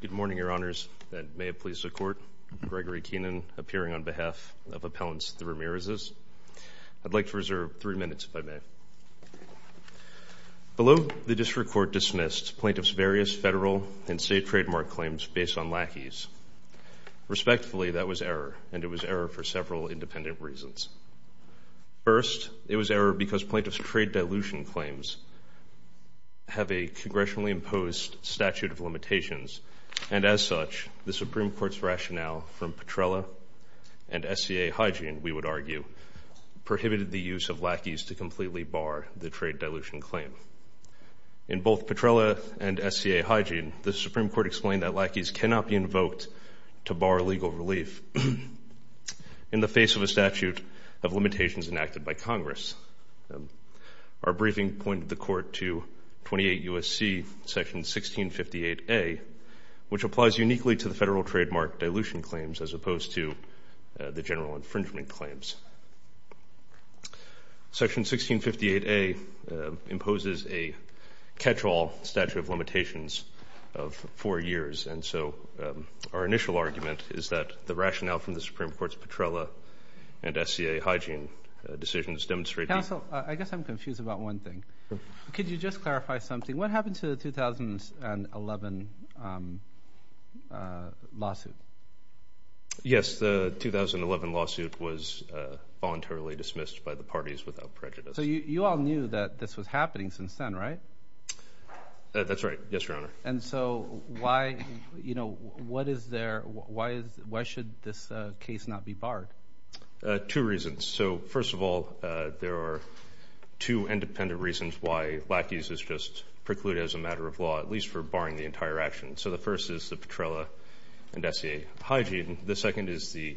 Good morning, Your Honors. May it please the Court. Gregory Keenan, appearing on behalf of Appellants Ramirez. I'd like to reserve three minutes, if I may. Below, the District Court dismissed plaintiffs' various federal and state trademark claims based on lackeys. Respectfully, that was error, and it was error for several independent reasons. First, it was error because plaintiffs' trade dilution claims have a congressionally imposed statute of limitations, and as such, the Supreme Court's rationale from Petrella and SCA Hygiene, we would argue, prohibited the use of lackeys to completely bar the trade dilution claim. In both Petrella and SCA Hygiene, the Supreme Court explained that lackeys cannot be invoked to bar legal relief in the face of a statute of limitations enacted by Congress. Our briefing pointed the Court to 28 U.S.C. Section 1658A, which applies uniquely to the federal trademark dilution claims as opposed to the general infringement claims. Section 1658A imposes a catch-all statute of limitations of four years, and so our initial argument is that the rationale from the Supreme Court's Petrella and SCA Hygiene decisions demonstrate the... Counsel, I guess I'm confused about one thing. Could you just clarify something? What happened to the 2011 lawsuit? Yes, the 2011 lawsuit was voluntarily dismissed by the parties without prejudice. So you all knew that this was happening since then, right? That's right. Yes, Your Honor. Two reasons. So first of all, there are two independent reasons why lackeys is just precluded as a matter of law, at least for barring the entire action. So the first is the Petrella and SCA Hygiene. The second is the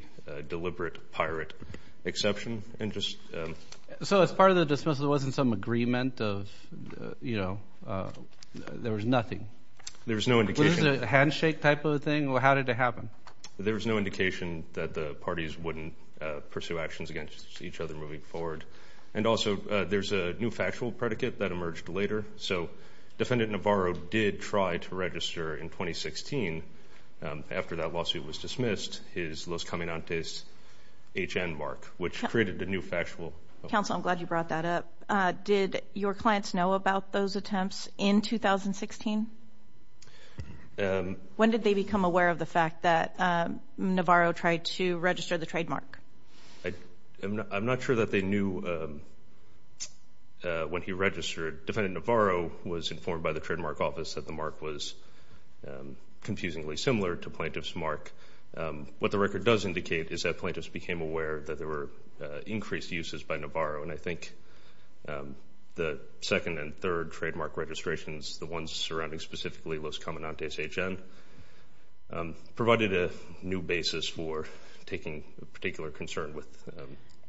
deliberate pirate exception. So as part of the dismissal, there wasn't some agreement of, you know, there was nothing? There was no indication. Was it a handshake type of a thing? How did it happen? There was no indication that the parties wouldn't pursue actions against each other moving forward. And also there's a new factual predicate that emerged later. So Defendant Navarro did try to register in 2016 after that lawsuit was dismissed, his Los Cominantes H.N. mark, which created a new factual... Counsel, I'm glad you brought that up. Did your clients know about those attempts in 2016? When did they become aware of the fact that Navarro tried to register the trademark? I'm not sure that they knew when he registered. Defendant Navarro was informed by the Trademark Office that the mark was confusingly similar to Plaintiff's mark. What the record does indicate is that Plaintiffs became aware that there were increased uses by Navarro. And I think the second and third trademark registrations, the ones surrounding specifically Los Cominantes H.N., provided a new basis for taking particular concern with...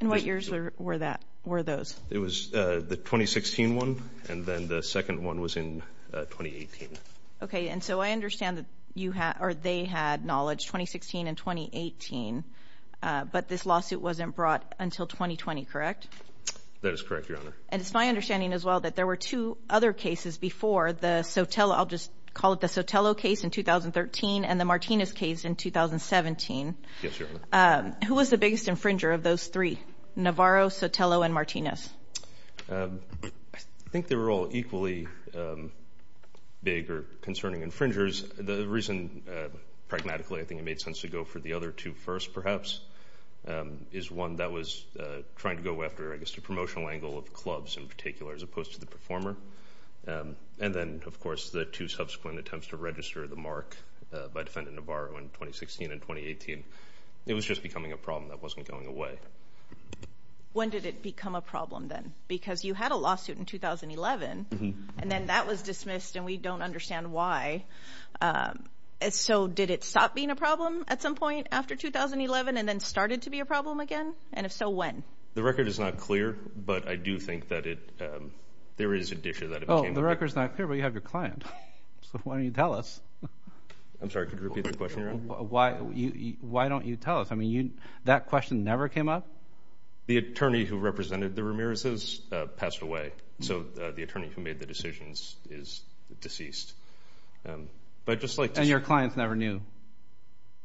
And what years were those? It was the 2016 one, and then the second one was in 2018. Okay. And so I understand that you had or they had knowledge 2016 and 2018, but this lawsuit wasn't brought until 2020, correct? That is correct, Your Honor. And it's my understanding as well that there were two other cases before the Sotelo. I'll just call it the Sotelo case in 2013 and the Martinez case in 2017. Yes, Your Honor. Who was the biggest infringer of those three, Navarro, Sotelo, and Martinez? I think they were all equally big or concerning infringers. The reason, pragmatically, I think it made sense to go for the other two first perhaps, is one that was trying to go after, I guess, the promotional angle of clubs in particular as opposed to the performer. And then, of course, the two subsequent attempts to register the mark by Defendant Navarro in 2016 and 2018. It was just becoming a problem that wasn't going away. When did it become a problem then? Because you had a lawsuit in 2011, and then that was dismissed, and we don't understand why. So did it stop being a problem at some point after 2011 and then started to be a problem again? And if so, when? The record is not clear, but I do think that there is an issue that it became a problem. Oh, the record is not clear, but you have your client. So why don't you tell us? I'm sorry, could you repeat the question, Your Honor? Why don't you tell us? I mean, that question never came up? The attorney who represented the Ramirez's passed away. So the attorney who made the decisions is deceased. And your clients never knew?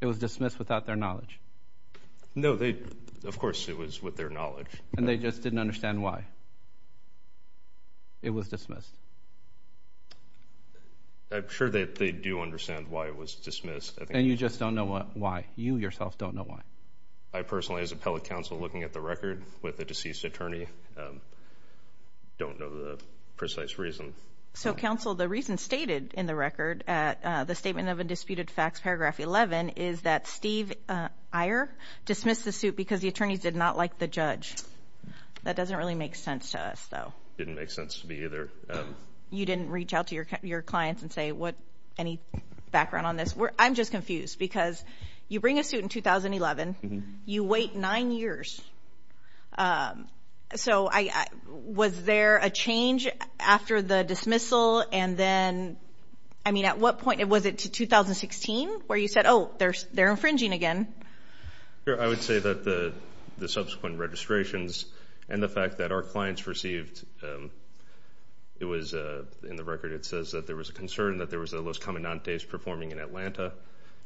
It was dismissed without their knowledge? No, of course it was with their knowledge. And they just didn't understand why it was dismissed? I'm sure that they do understand why it was dismissed. And you just don't know why? You yourself don't know why? I personally, as appellate counsel, looking at the record with the deceased attorney, don't know the precise reason. So, counsel, the reason stated in the record at the statement of undisputed facts, paragraph 11, is that Steve Iyer dismissed the suit because the attorneys did not like the judge. That doesn't really make sense to us, though. It didn't make sense to me either. You didn't reach out to your clients and say, what, any background on this? I'm just confused because you bring a suit in 2011. You wait nine years. So was there a change after the dismissal and then, I mean, at what point? Was it to 2016 where you said, oh, they're infringing again? I would say that the subsequent registrations and the fact that our clients received, it was in the record it says that there was a concern that there was a Los Cominantes performing in Atlanta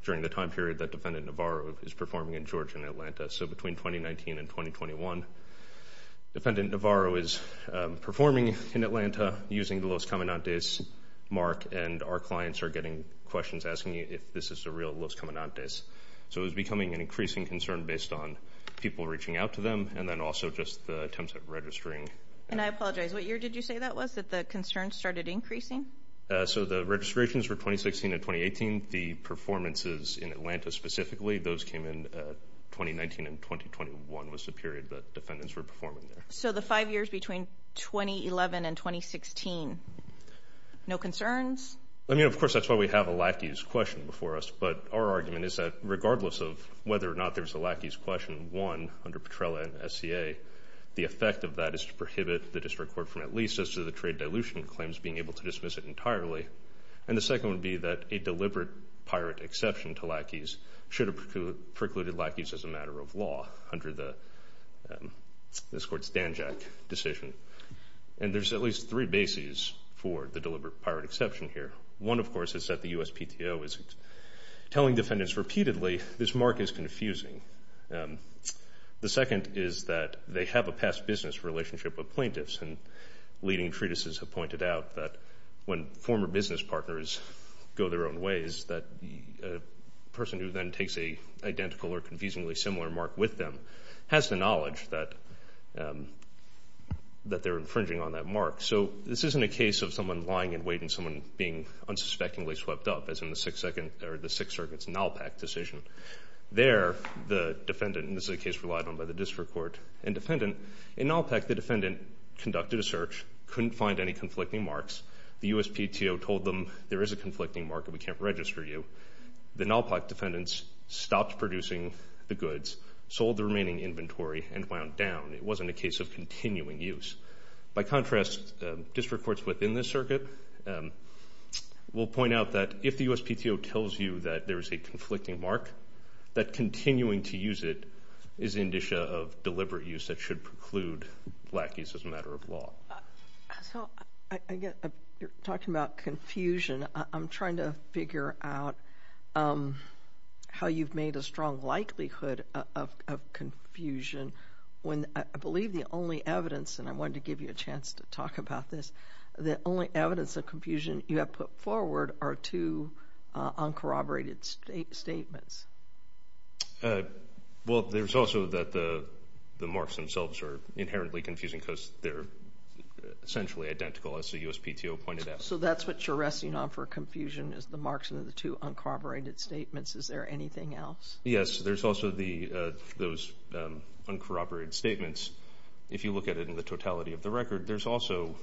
during the time period that Defendant Navarro is performing in Georgia and Atlanta. So between 2019 and 2021, Defendant Navarro is performing in Atlanta using the Los Cominantes mark and our clients are getting questions asking if this is a real Los Cominantes. So it was becoming an increasing concern based on people reaching out to them and then also just the attempts at registering. And I apologize, what year did you say that was, that the concerns started increasing? So the registrations were 2016 and 2018. The performances in Atlanta specifically, those came in 2019 and 2021 was the period that Defendants were performing there. So the five years between 2011 and 2016, no concerns? I mean, of course, that's why we have a lackey's question before us, but our argument is that regardless of whether or not there's a lackey's question, one, under Petrella and SCA, the effect of that is to prohibit the district court from at least, as to the trade dilution claims, being able to dismiss it entirely. And the second would be that a deliberate pirate exception to lackeys should have precluded lackeys as a matter of law under this court's Danjak decision. And there's at least three bases for the deliberate pirate exception here. One, of course, is that the USPTO is telling defendants repeatedly, this mark is confusing. The second is that they have a past business relationship with plaintiffs, and leading treatises have pointed out that when former business partners go their own ways, that the person who then takes an identical or confusingly similar mark with them has the knowledge that they're infringing on that mark. So this isn't a case of someone lying in wait and someone being unsuspectingly swept up, as in the Sixth Circuit's NALPAC decision. There, the defendant, and this is a case relied on by the district court and defendant, in NALPAC, the defendant conducted a search, couldn't find any conflicting marks. The USPTO told them there is a conflicting mark and we can't register you. The NALPAC defendants stopped producing the goods, sold the remaining inventory, and wound down. It wasn't a case of continuing use. By contrast, district courts within this circuit will point out that if the USPTO tells you that there is a conflicting mark, that continuing to use it is an indicia of deliberate use that should preclude black use as a matter of law. So, again, you're talking about confusion. I'm trying to figure out how you've made a strong likelihood of confusion when I believe the only evidence, and I wanted to give you a chance to talk about this, the only evidence of confusion you have put forward are two uncorroborated statements. Well, there's also that the marks themselves are inherently confusing because they're essentially identical, as the USPTO pointed out. So that's what you're resting on for confusion is the marks and the two uncorroborated statements. Is there anything else? Yes, there's also those uncorroborated statements. If you look at it in the totality of the record, there's also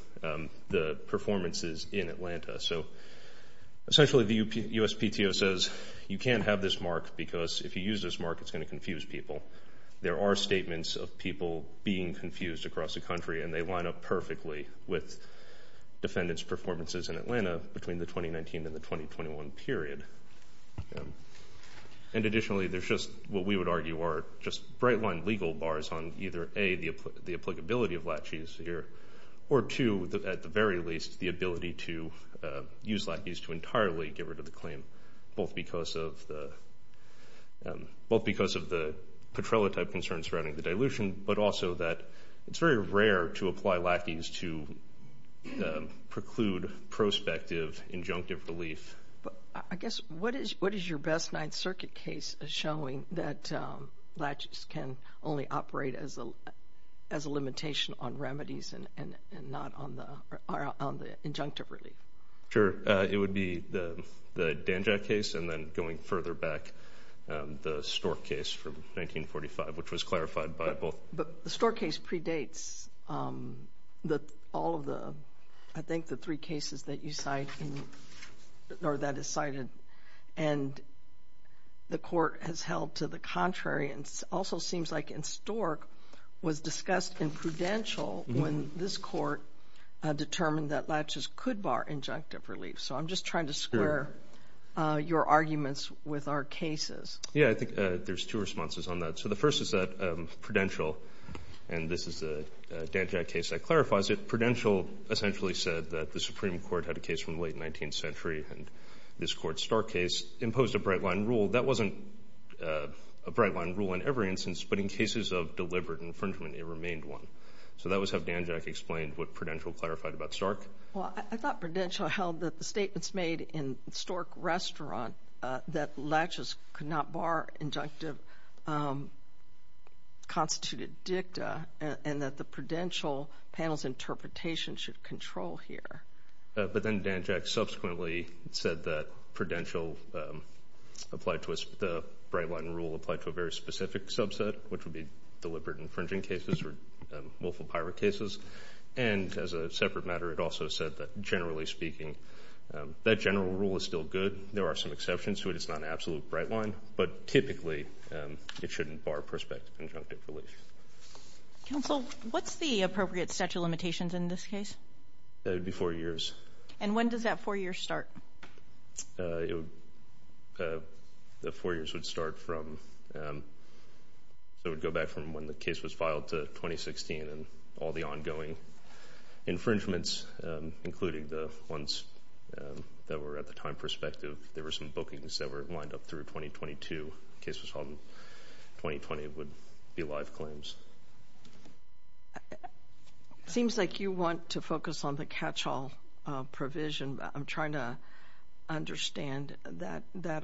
the performances in Atlanta. So essentially the USPTO says you can't have this mark because if you use this mark, it's going to confuse people. There are statements of people being confused across the country, and they line up perfectly with defendants' performances in Atlanta between the 2019 and the 2021 period. And additionally, there's just what we would argue are just bright-line legal bars on either, A, the applicability of LACHI's here, or two, at the very least, the ability to use LACHI's to entirely get rid of the claim, both because of the Petrella-type concerns surrounding the dilution, but also that it's very rare to apply LACHI's to preclude prospective injunctive relief. I guess what is your best Ninth Circuit case showing that LACHI's can only operate as a limitation on remedies and not on the injunctive relief? Sure. It would be the Danjak case and then going further back, the Stork case from 1945, which was clarified by both. But the Stork case predates all of the, I think, the three cases that you cite or that is cited, and the court has held to the contrary and also seems like in Stork was discussed in Prudential when this court determined that LACHI's could bar injunctive relief. So I'm just trying to square your arguments with our cases. Yeah, I think there's two responses on that. So the first is that Prudential, and this is the Danjak case that clarifies it, Prudential essentially said that the Supreme Court had a case from the late 19th century and this court's Stork case imposed a bright-line rule. That wasn't a bright-line rule in every instance, but in cases of deliberate infringement it remained one. So that was how Danjak explained what Prudential clarified about Stork. Well, I thought Prudential held that the statements made in Stork Restaurant that LACHI's could not bar injunctive constituted dicta and that the Prudential panel's interpretation should control here. But then Danjak subsequently said that Prudential applied to us, the bright-line rule applied to a very specific subset, which would be deliberate infringing cases or willful pirate cases. And as a separate matter, it also said that generally speaking that general rule is still good. There are some exceptions to it. It's not an absolute bright-line, but typically it shouldn't bar prospective injunctive relief. Counsel, what's the appropriate statute of limitations in this case? It would be four years. And when does that four years start? The four years would start from, so it would go back from when the case was filed to 2016 and all the ongoing infringements, including the ones that were at the time prospective. There were some bookings that were lined up through 2022. The case was filed in 2020. It would be live claims. It seems like you want to focus on the catch-all provision. I'm trying to understand that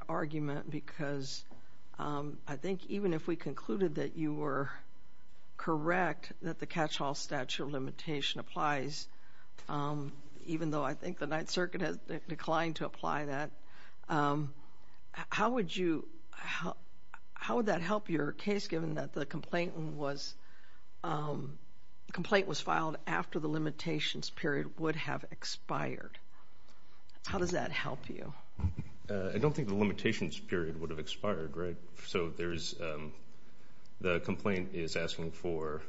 argument because I think even if we concluded that you were correct, that the catch-all statute of limitation applies, even though I think the Ninth Circuit has declined to apply that. How would that help your case, given that the complaint was filed after the limitations period would have expired? How does that help you? I don't think the limitations period would have expired, right? So the complaint is asking for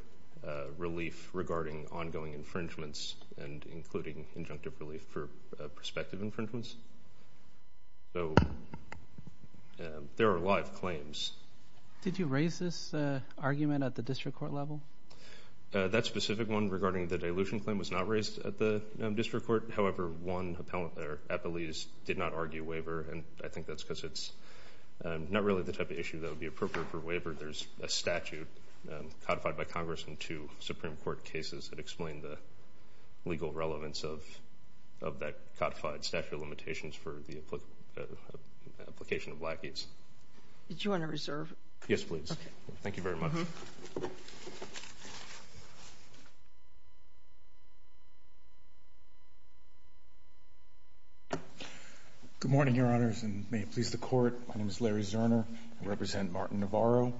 relief regarding ongoing infringements and including injunctive relief for prospective infringements. So there are live claims. Did you raise this argument at the district court level? That specific one regarding the dilution claim was not raised at the district court. However, one appellee did not argue waiver, and I think that's because it's not really the type of issue that would be appropriate for waiver. There's a statute codified by Congress in two Supreme Court cases that explain the legal relevance of that codified statute of limitations for the application of lackeys. Did you want to reserve? Yes, please. Thank you very much. Good morning, Your Honors, and may it please the Court. My name is Larry Zerner. I represent Martin Navarro.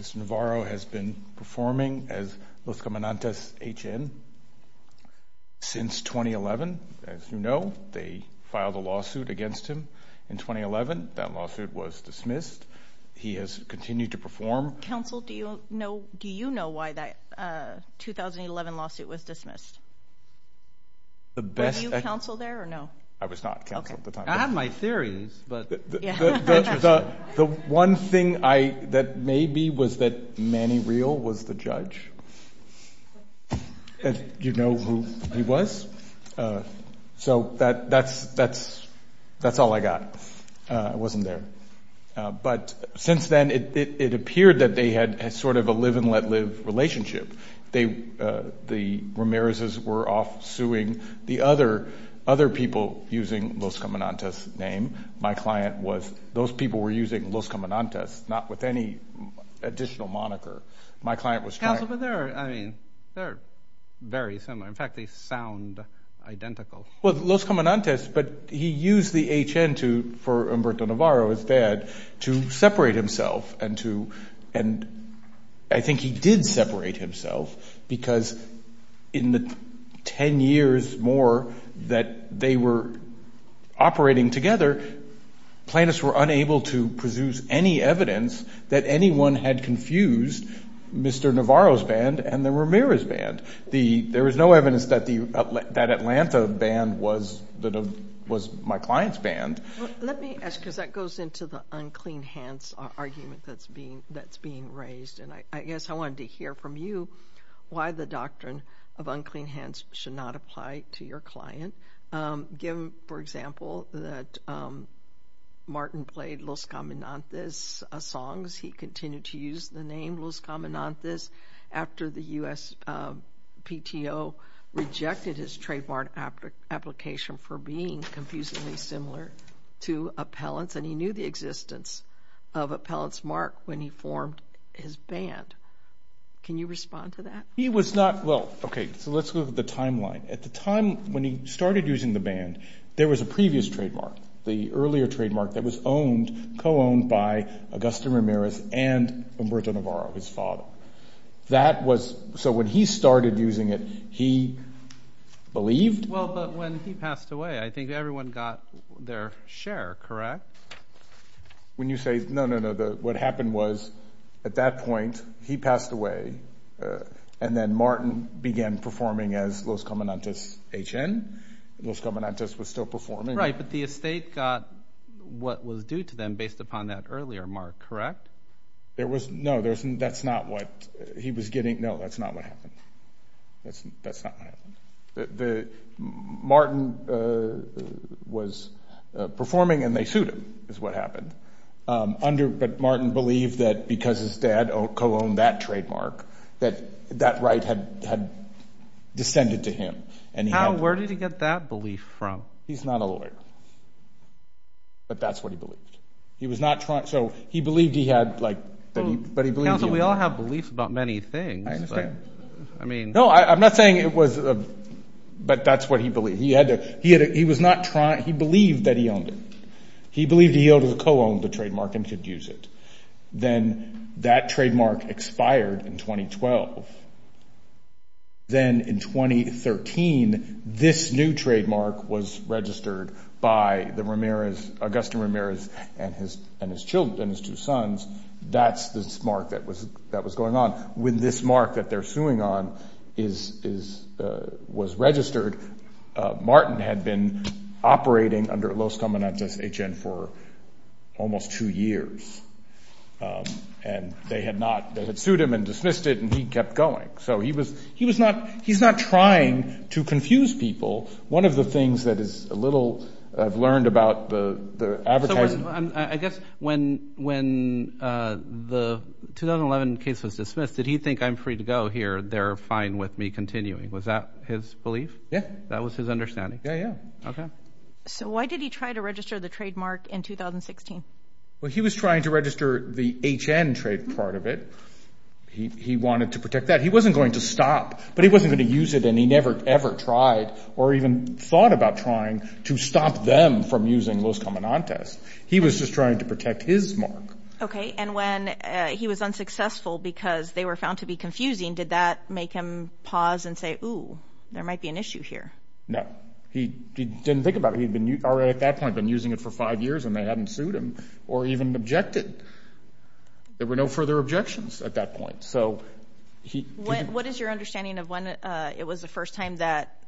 Mr. Navarro has been performing as Los Comandantes H.N. since 2011. As you know, they filed a lawsuit against him in 2011. That lawsuit was dismissed. He has continued to perform. Counsel, do you know why that 2011 lawsuit was dismissed? Were you counsel there or no? I was not counsel at the time. I have my theories. The one thing that may be was that Manny Real was the judge. Do you know who he was? So that's all I got. I wasn't there. But since then, it appeared that they had sort of a live-and-let-live relationship. The Ramirezes were off suing the other people using Los Comandantes' name. Those people were using Los Comandantes, not with any additional moniker. Counsel, but they're very similar. In fact, they sound identical. Well, Los Comandantes, but he used the H.N. for Humberto Navarro, his dad, to separate himself. And I think he did separate himself because in the 10 years more that they were operating together, plaintiffs were unable to produce any evidence that anyone had confused Mr. Navarro's band and the Ramirez band. There was no evidence that Atlanta band was my client's band. Let me ask, because that goes into the unclean hands argument that's being raised, and I guess I wanted to hear from you why the doctrine of unclean hands should not apply to your client. Give, for example, that Martin played Los Comandantes songs. He continued to use the name Los Comandantes after the U.S. PTO rejected his trademark application for being confusingly similar to Appellant's, and he knew the existence of Appellant's mark when he formed his band. Can you respond to that? He was not, well, okay, so let's look at the timeline. At the time when he started using the band, there was a previous trademark, the earlier trademark that was owned, co-owned by Augusto Ramirez and Humberto Navarro, his father. That was, so when he started using it, he believed. Well, but when he passed away, I think everyone got their share, correct? When you say, no, no, no, what happened was at that point he passed away, and then Martin began performing as Los Comandantes H.N. Los Comandantes was still performing. Right, but the estate got what was due to them based upon that earlier mark, correct? There was, no, that's not what he was getting, no, that's not what happened. That's not what happened. Martin was performing, and they sued him, is what happened. But Martin believed that because his dad co-owned that trademark, that that right had descended to him. How, where did he get that belief from? He's not a lawyer, but that's what he believed. He was not trying, so he believed he had, like, but he believed he had. Council, we all have beliefs about many things. I understand. No, I'm not saying it was, but that's what he believed. He had to, he was not trying, he believed that he owned it. He believed he could co-own the trademark and could use it. Then that trademark expired in 2012. Then in 2013, this new trademark was registered by the Ramirez, Augustin Ramirez and his children, his two sons. That's the mark that was going on. With this mark that they're suing on is, was registered. Martin had been operating under Los Comandantes H.N. for almost two years. And they had not, they had sued him and dismissed it, and he kept going. So he was, he was not, he's not trying to confuse people. One of the things that is a little, I've learned about the advertising. Of course, I guess when the 2011 case was dismissed, did he think I'm free to go here, they're fine with me continuing. Was that his belief? Yeah. That was his understanding? Yeah, yeah. Okay. So why did he try to register the trademark in 2016? Well, he was trying to register the H.N. trade part of it. He wanted to protect that. He wasn't going to stop, but he wasn't going to use it, and he never ever tried or even thought about trying to stop them from using Los Comandantes. He was just trying to protect his mark. Okay. And when he was unsuccessful because they were found to be confusing, did that make him pause and say, ooh, there might be an issue here? No. He didn't think about it. He had already at that point been using it for five years, and they hadn't sued him or even objected. There were no further objections at that point. What is your understanding of when it was the first time that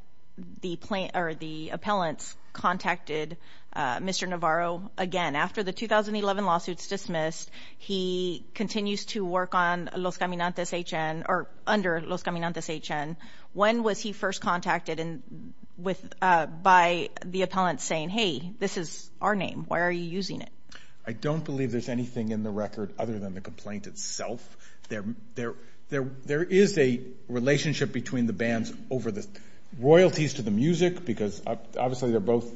the appellants contacted Mr. Navarro again? After the 2011 lawsuit's dismissed, he continues to work under Los Comandantes H.N. When was he first contacted by the appellants saying, hey, this is our name, why are you using it? I don't believe there's anything in the record other than the complaint itself. There is a relationship between the bands over the royalties to the music because obviously they're both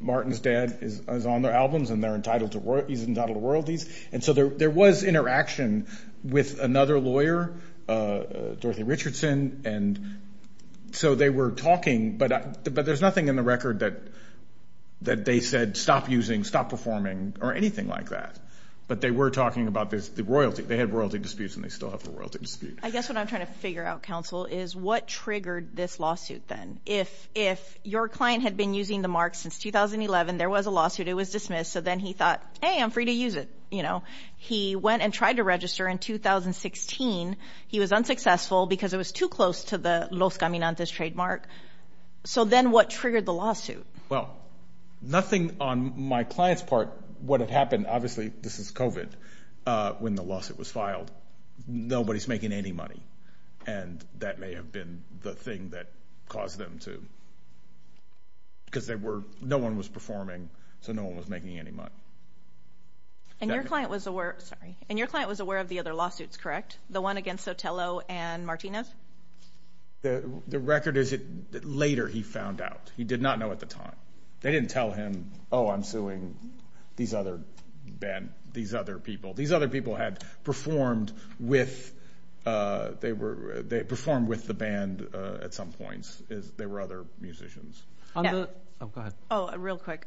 Martin's dad is on their albums and he's entitled to royalties. And so there was interaction with another lawyer, Dorothy Richardson, and so they were talking, but there's nothing in the record that they said, stop using, stop performing, or anything like that. But they were talking about the royalty. They had royalty disputes and they still have the royalty dispute. I guess what I'm trying to figure out, counsel, is what triggered this lawsuit then? If your client had been using the mark since 2011, there was a lawsuit, it was dismissed, so then he thought, hey, I'm free to use it. He went and tried to register in 2016. He was unsuccessful because it was too close to the Los Comandantes trademark. So then what triggered the lawsuit? Well, nothing on my client's part. What had happened, obviously this is COVID, when the lawsuit was filed, nobody's making any money, and that may have been the thing that caused them to, because no one was performing, so no one was making any money. And your client was aware of the other lawsuits, correct? The one against Sotelo and Martinez? The record is that later he found out. He did not know at the time. They didn't tell him, oh, I'm suing these other people. These other people had performed with the band at some points. They were other musicians. Go ahead. Oh, real quick.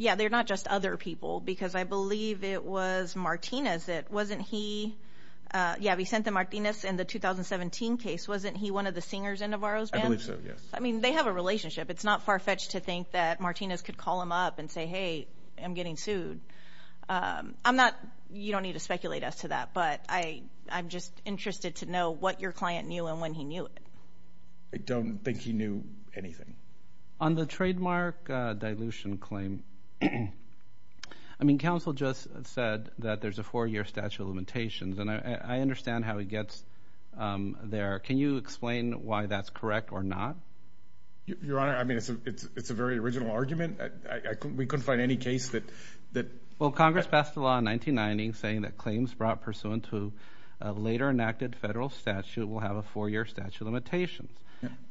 Yeah, they're not just other people because I believe it was Martinez. Yeah, Vicente Martinez in the 2017 case, wasn't he one of the singers in Navarro's band? I believe so, yes. I mean, they have a relationship. It's not far-fetched to think that Martinez could call him up and say, hey, I'm getting sued. You don't need to speculate as to that, but I'm just interested to know what your client knew and when he knew it. I don't think he knew anything. On the trademark dilution claim, I mean, counsel just said that there's a four-year statute of limitations, and I understand how he gets there. Can you explain why that's correct or not? Your Honor, I mean, it's a very original argument. We couldn't find any case that ---- Well, Congress passed a law in 1990 saying that claims brought pursuant to a later enacted federal statute will have a four-year statute of limitations,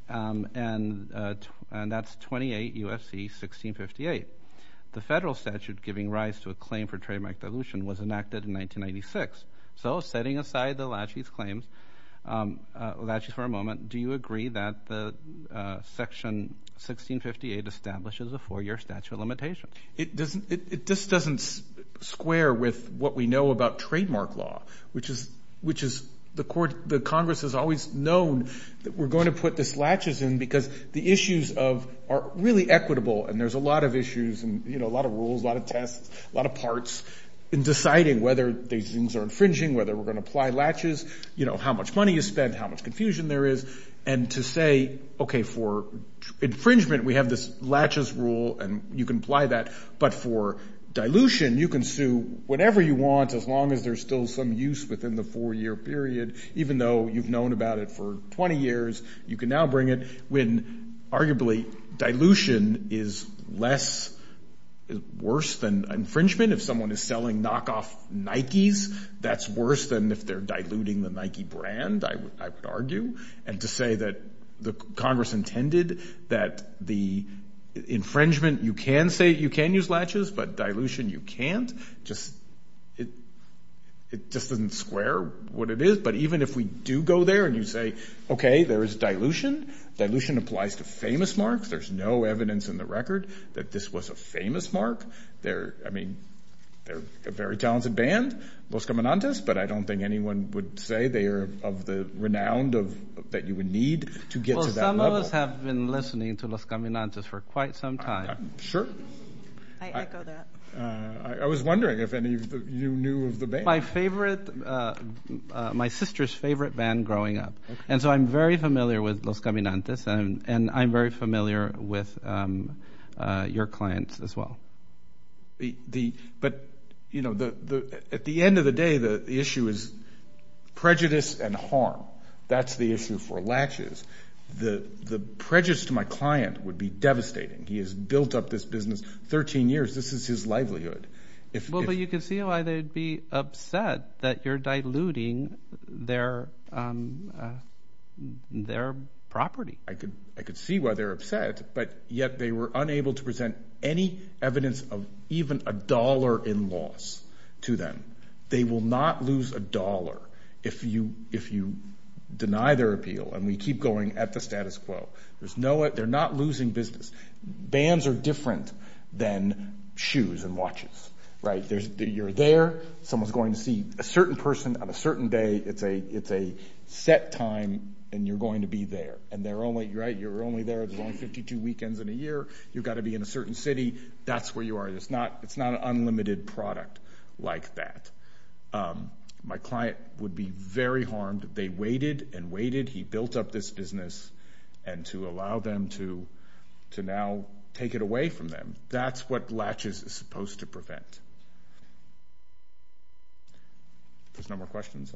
and that's 28 U.S.C. 1658. The federal statute giving rise to a claim for trademark dilution was enacted in 1996. So setting aside the laches claims, laches for a moment, do you agree that Section 1658 establishes a four-year statute of limitations? It just doesn't square with what we know about trademark law, which is the Congress has always known that we're going to put these laches in because the issues are really equitable, and there's a lot of issues and a lot of rules, a lot of tests, a lot of parts in deciding whether these things are infringing, whether we're going to apply laches, you know, how much money you spend, how much confusion there is, and to say, okay, for infringement we have this laches rule and you can apply that, but for dilution you can sue whatever you want as long as there's still some use within the four-year period, even though you've known about it for 20 years, you can now bring it when arguably dilution is less worse than infringement. If someone is selling knockoff Nikes, that's worse than if they're diluting the Nike brand, I would argue. And to say that the Congress intended that the infringement, you can say you can use laches, but dilution you can't, it just doesn't square what it is. But even if we do go there and you say, okay, there is dilution, dilution applies to famous marks, there's no evidence in the record that this was a famous mark. I mean, they're a very talented band, Los Caminantes, but I don't think anyone would say they are of the renown that you would need to get to that level. Well, some of us have been listening to Los Caminantes for quite some time. Sure. I echo that. I was wondering if any of you knew of the band. It was my sister's favorite band growing up. And so I'm very familiar with Los Caminantes and I'm very familiar with your clients as well. But at the end of the day, the issue is prejudice and harm. That's the issue for laches. The prejudice to my client would be devastating. He has built up this business 13 years. This is his livelihood. Well, but you can see why they'd be upset that you're diluting their property. I could see why they're upset, but yet they were unable to present any evidence of even a dollar in loss to them. They will not lose a dollar if you deny their appeal and we keep going at the status quo. They're not losing business. Bands are different than shoes and laches. You're there. Someone's going to see a certain person on a certain day. It's a set time and you're going to be there. And you're only there 52 weekends in a year. You've got to be in a certain city. That's where you are. It's not an unlimited product like that. My client would be very harmed. They waited and waited. He built up this business and to allow them to now take it away from them. That's what laches is supposed to prevent. If there's no more questions.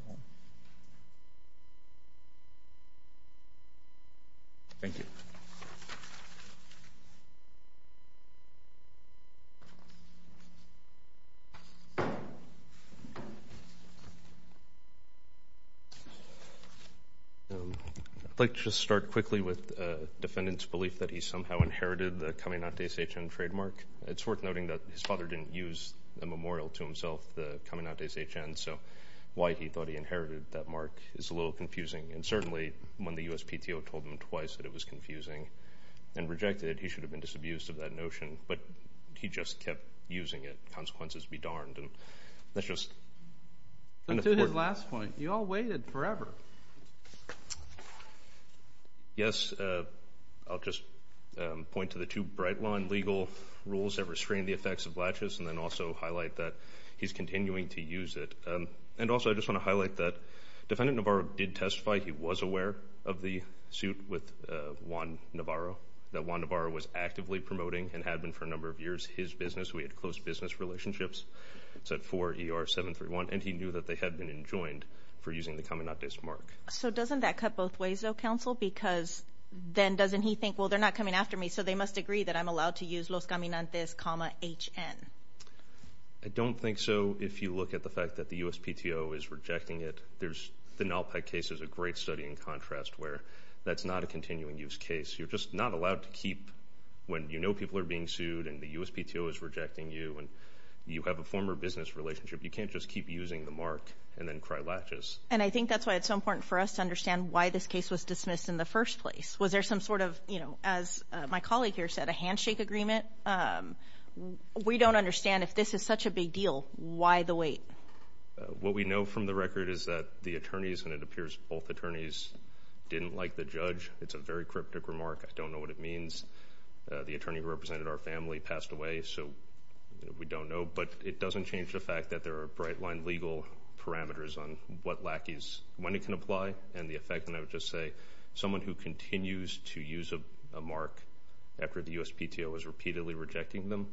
Thank you. I'd like to just start quickly with the defendant's belief that he somehow inherited the Caminantes HN trademark. It's worth noting that his father didn't use a memorial to himself, the Caminantes HN, so why he thought he inherited that mark is a little confusing. And certainly when the USPTO told him twice that it was confusing and rejected it, he should have been disabused of that notion, but he just kept using it. Consequences be darned. To his last point, you all waited forever. Yes, I'll just point to the two bright line legal rules that restrain the effects of laches and then also highlight that he's continuing to use it. And also I just want to highlight that Defendant Navarro did testify. He was aware of the suit with Juan Navarro, that Juan Navarro was actively promoting and had been for a number of years his business. We had close business relationships. It's at 4ER731, and he knew that they had been enjoined for using the Caminantes mark. So doesn't that cut both ways, though, counsel? Because then doesn't he think, well, they're not coming after me, so they must agree that I'm allowed to use Los Caminantes comma HN. I don't think so if you look at the fact that the USPTO is rejecting it. The Nalpe case is a great study in contrast where that's not a continuing use case. You're just not allowed to keep when you know people are being sued and the USPTO is rejecting you and you have a former business relationship. You can't just keep using the mark and then cry laches. And I think that's why it's so important for us to understand why this case was dismissed in the first place. Was there some sort of, as my colleague here said, a handshake agreement? We don't understand if this is such a big deal, why the wait? What we know from the record is that the attorneys, and it appears both attorneys, didn't like the judge. It's a very cryptic remark. I don't know what it means. The attorney who represented our family passed away, so we don't know. But it doesn't change the fact that there are bright-line legal parameters on what lackeys, when it can apply, and the effect. And I would just say someone who continues to use a mark after the USPTO is repeatedly rejecting them,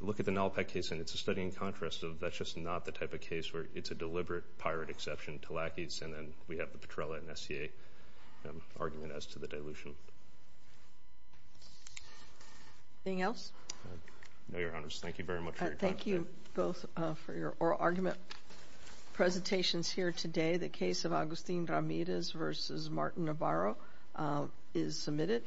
look at the Nalpec case, and it's a study in contrast of that's just not the type of case where it's a deliberate pirate exception to lackeys, and then we have the Petrella and SCA argument as to the dilution. Anything else? No, Your Honors. Thank you very much for your time today. Thank you both for your oral argument presentations here today. The case of Agustin Ramirez v. Martin Navarro is submitted.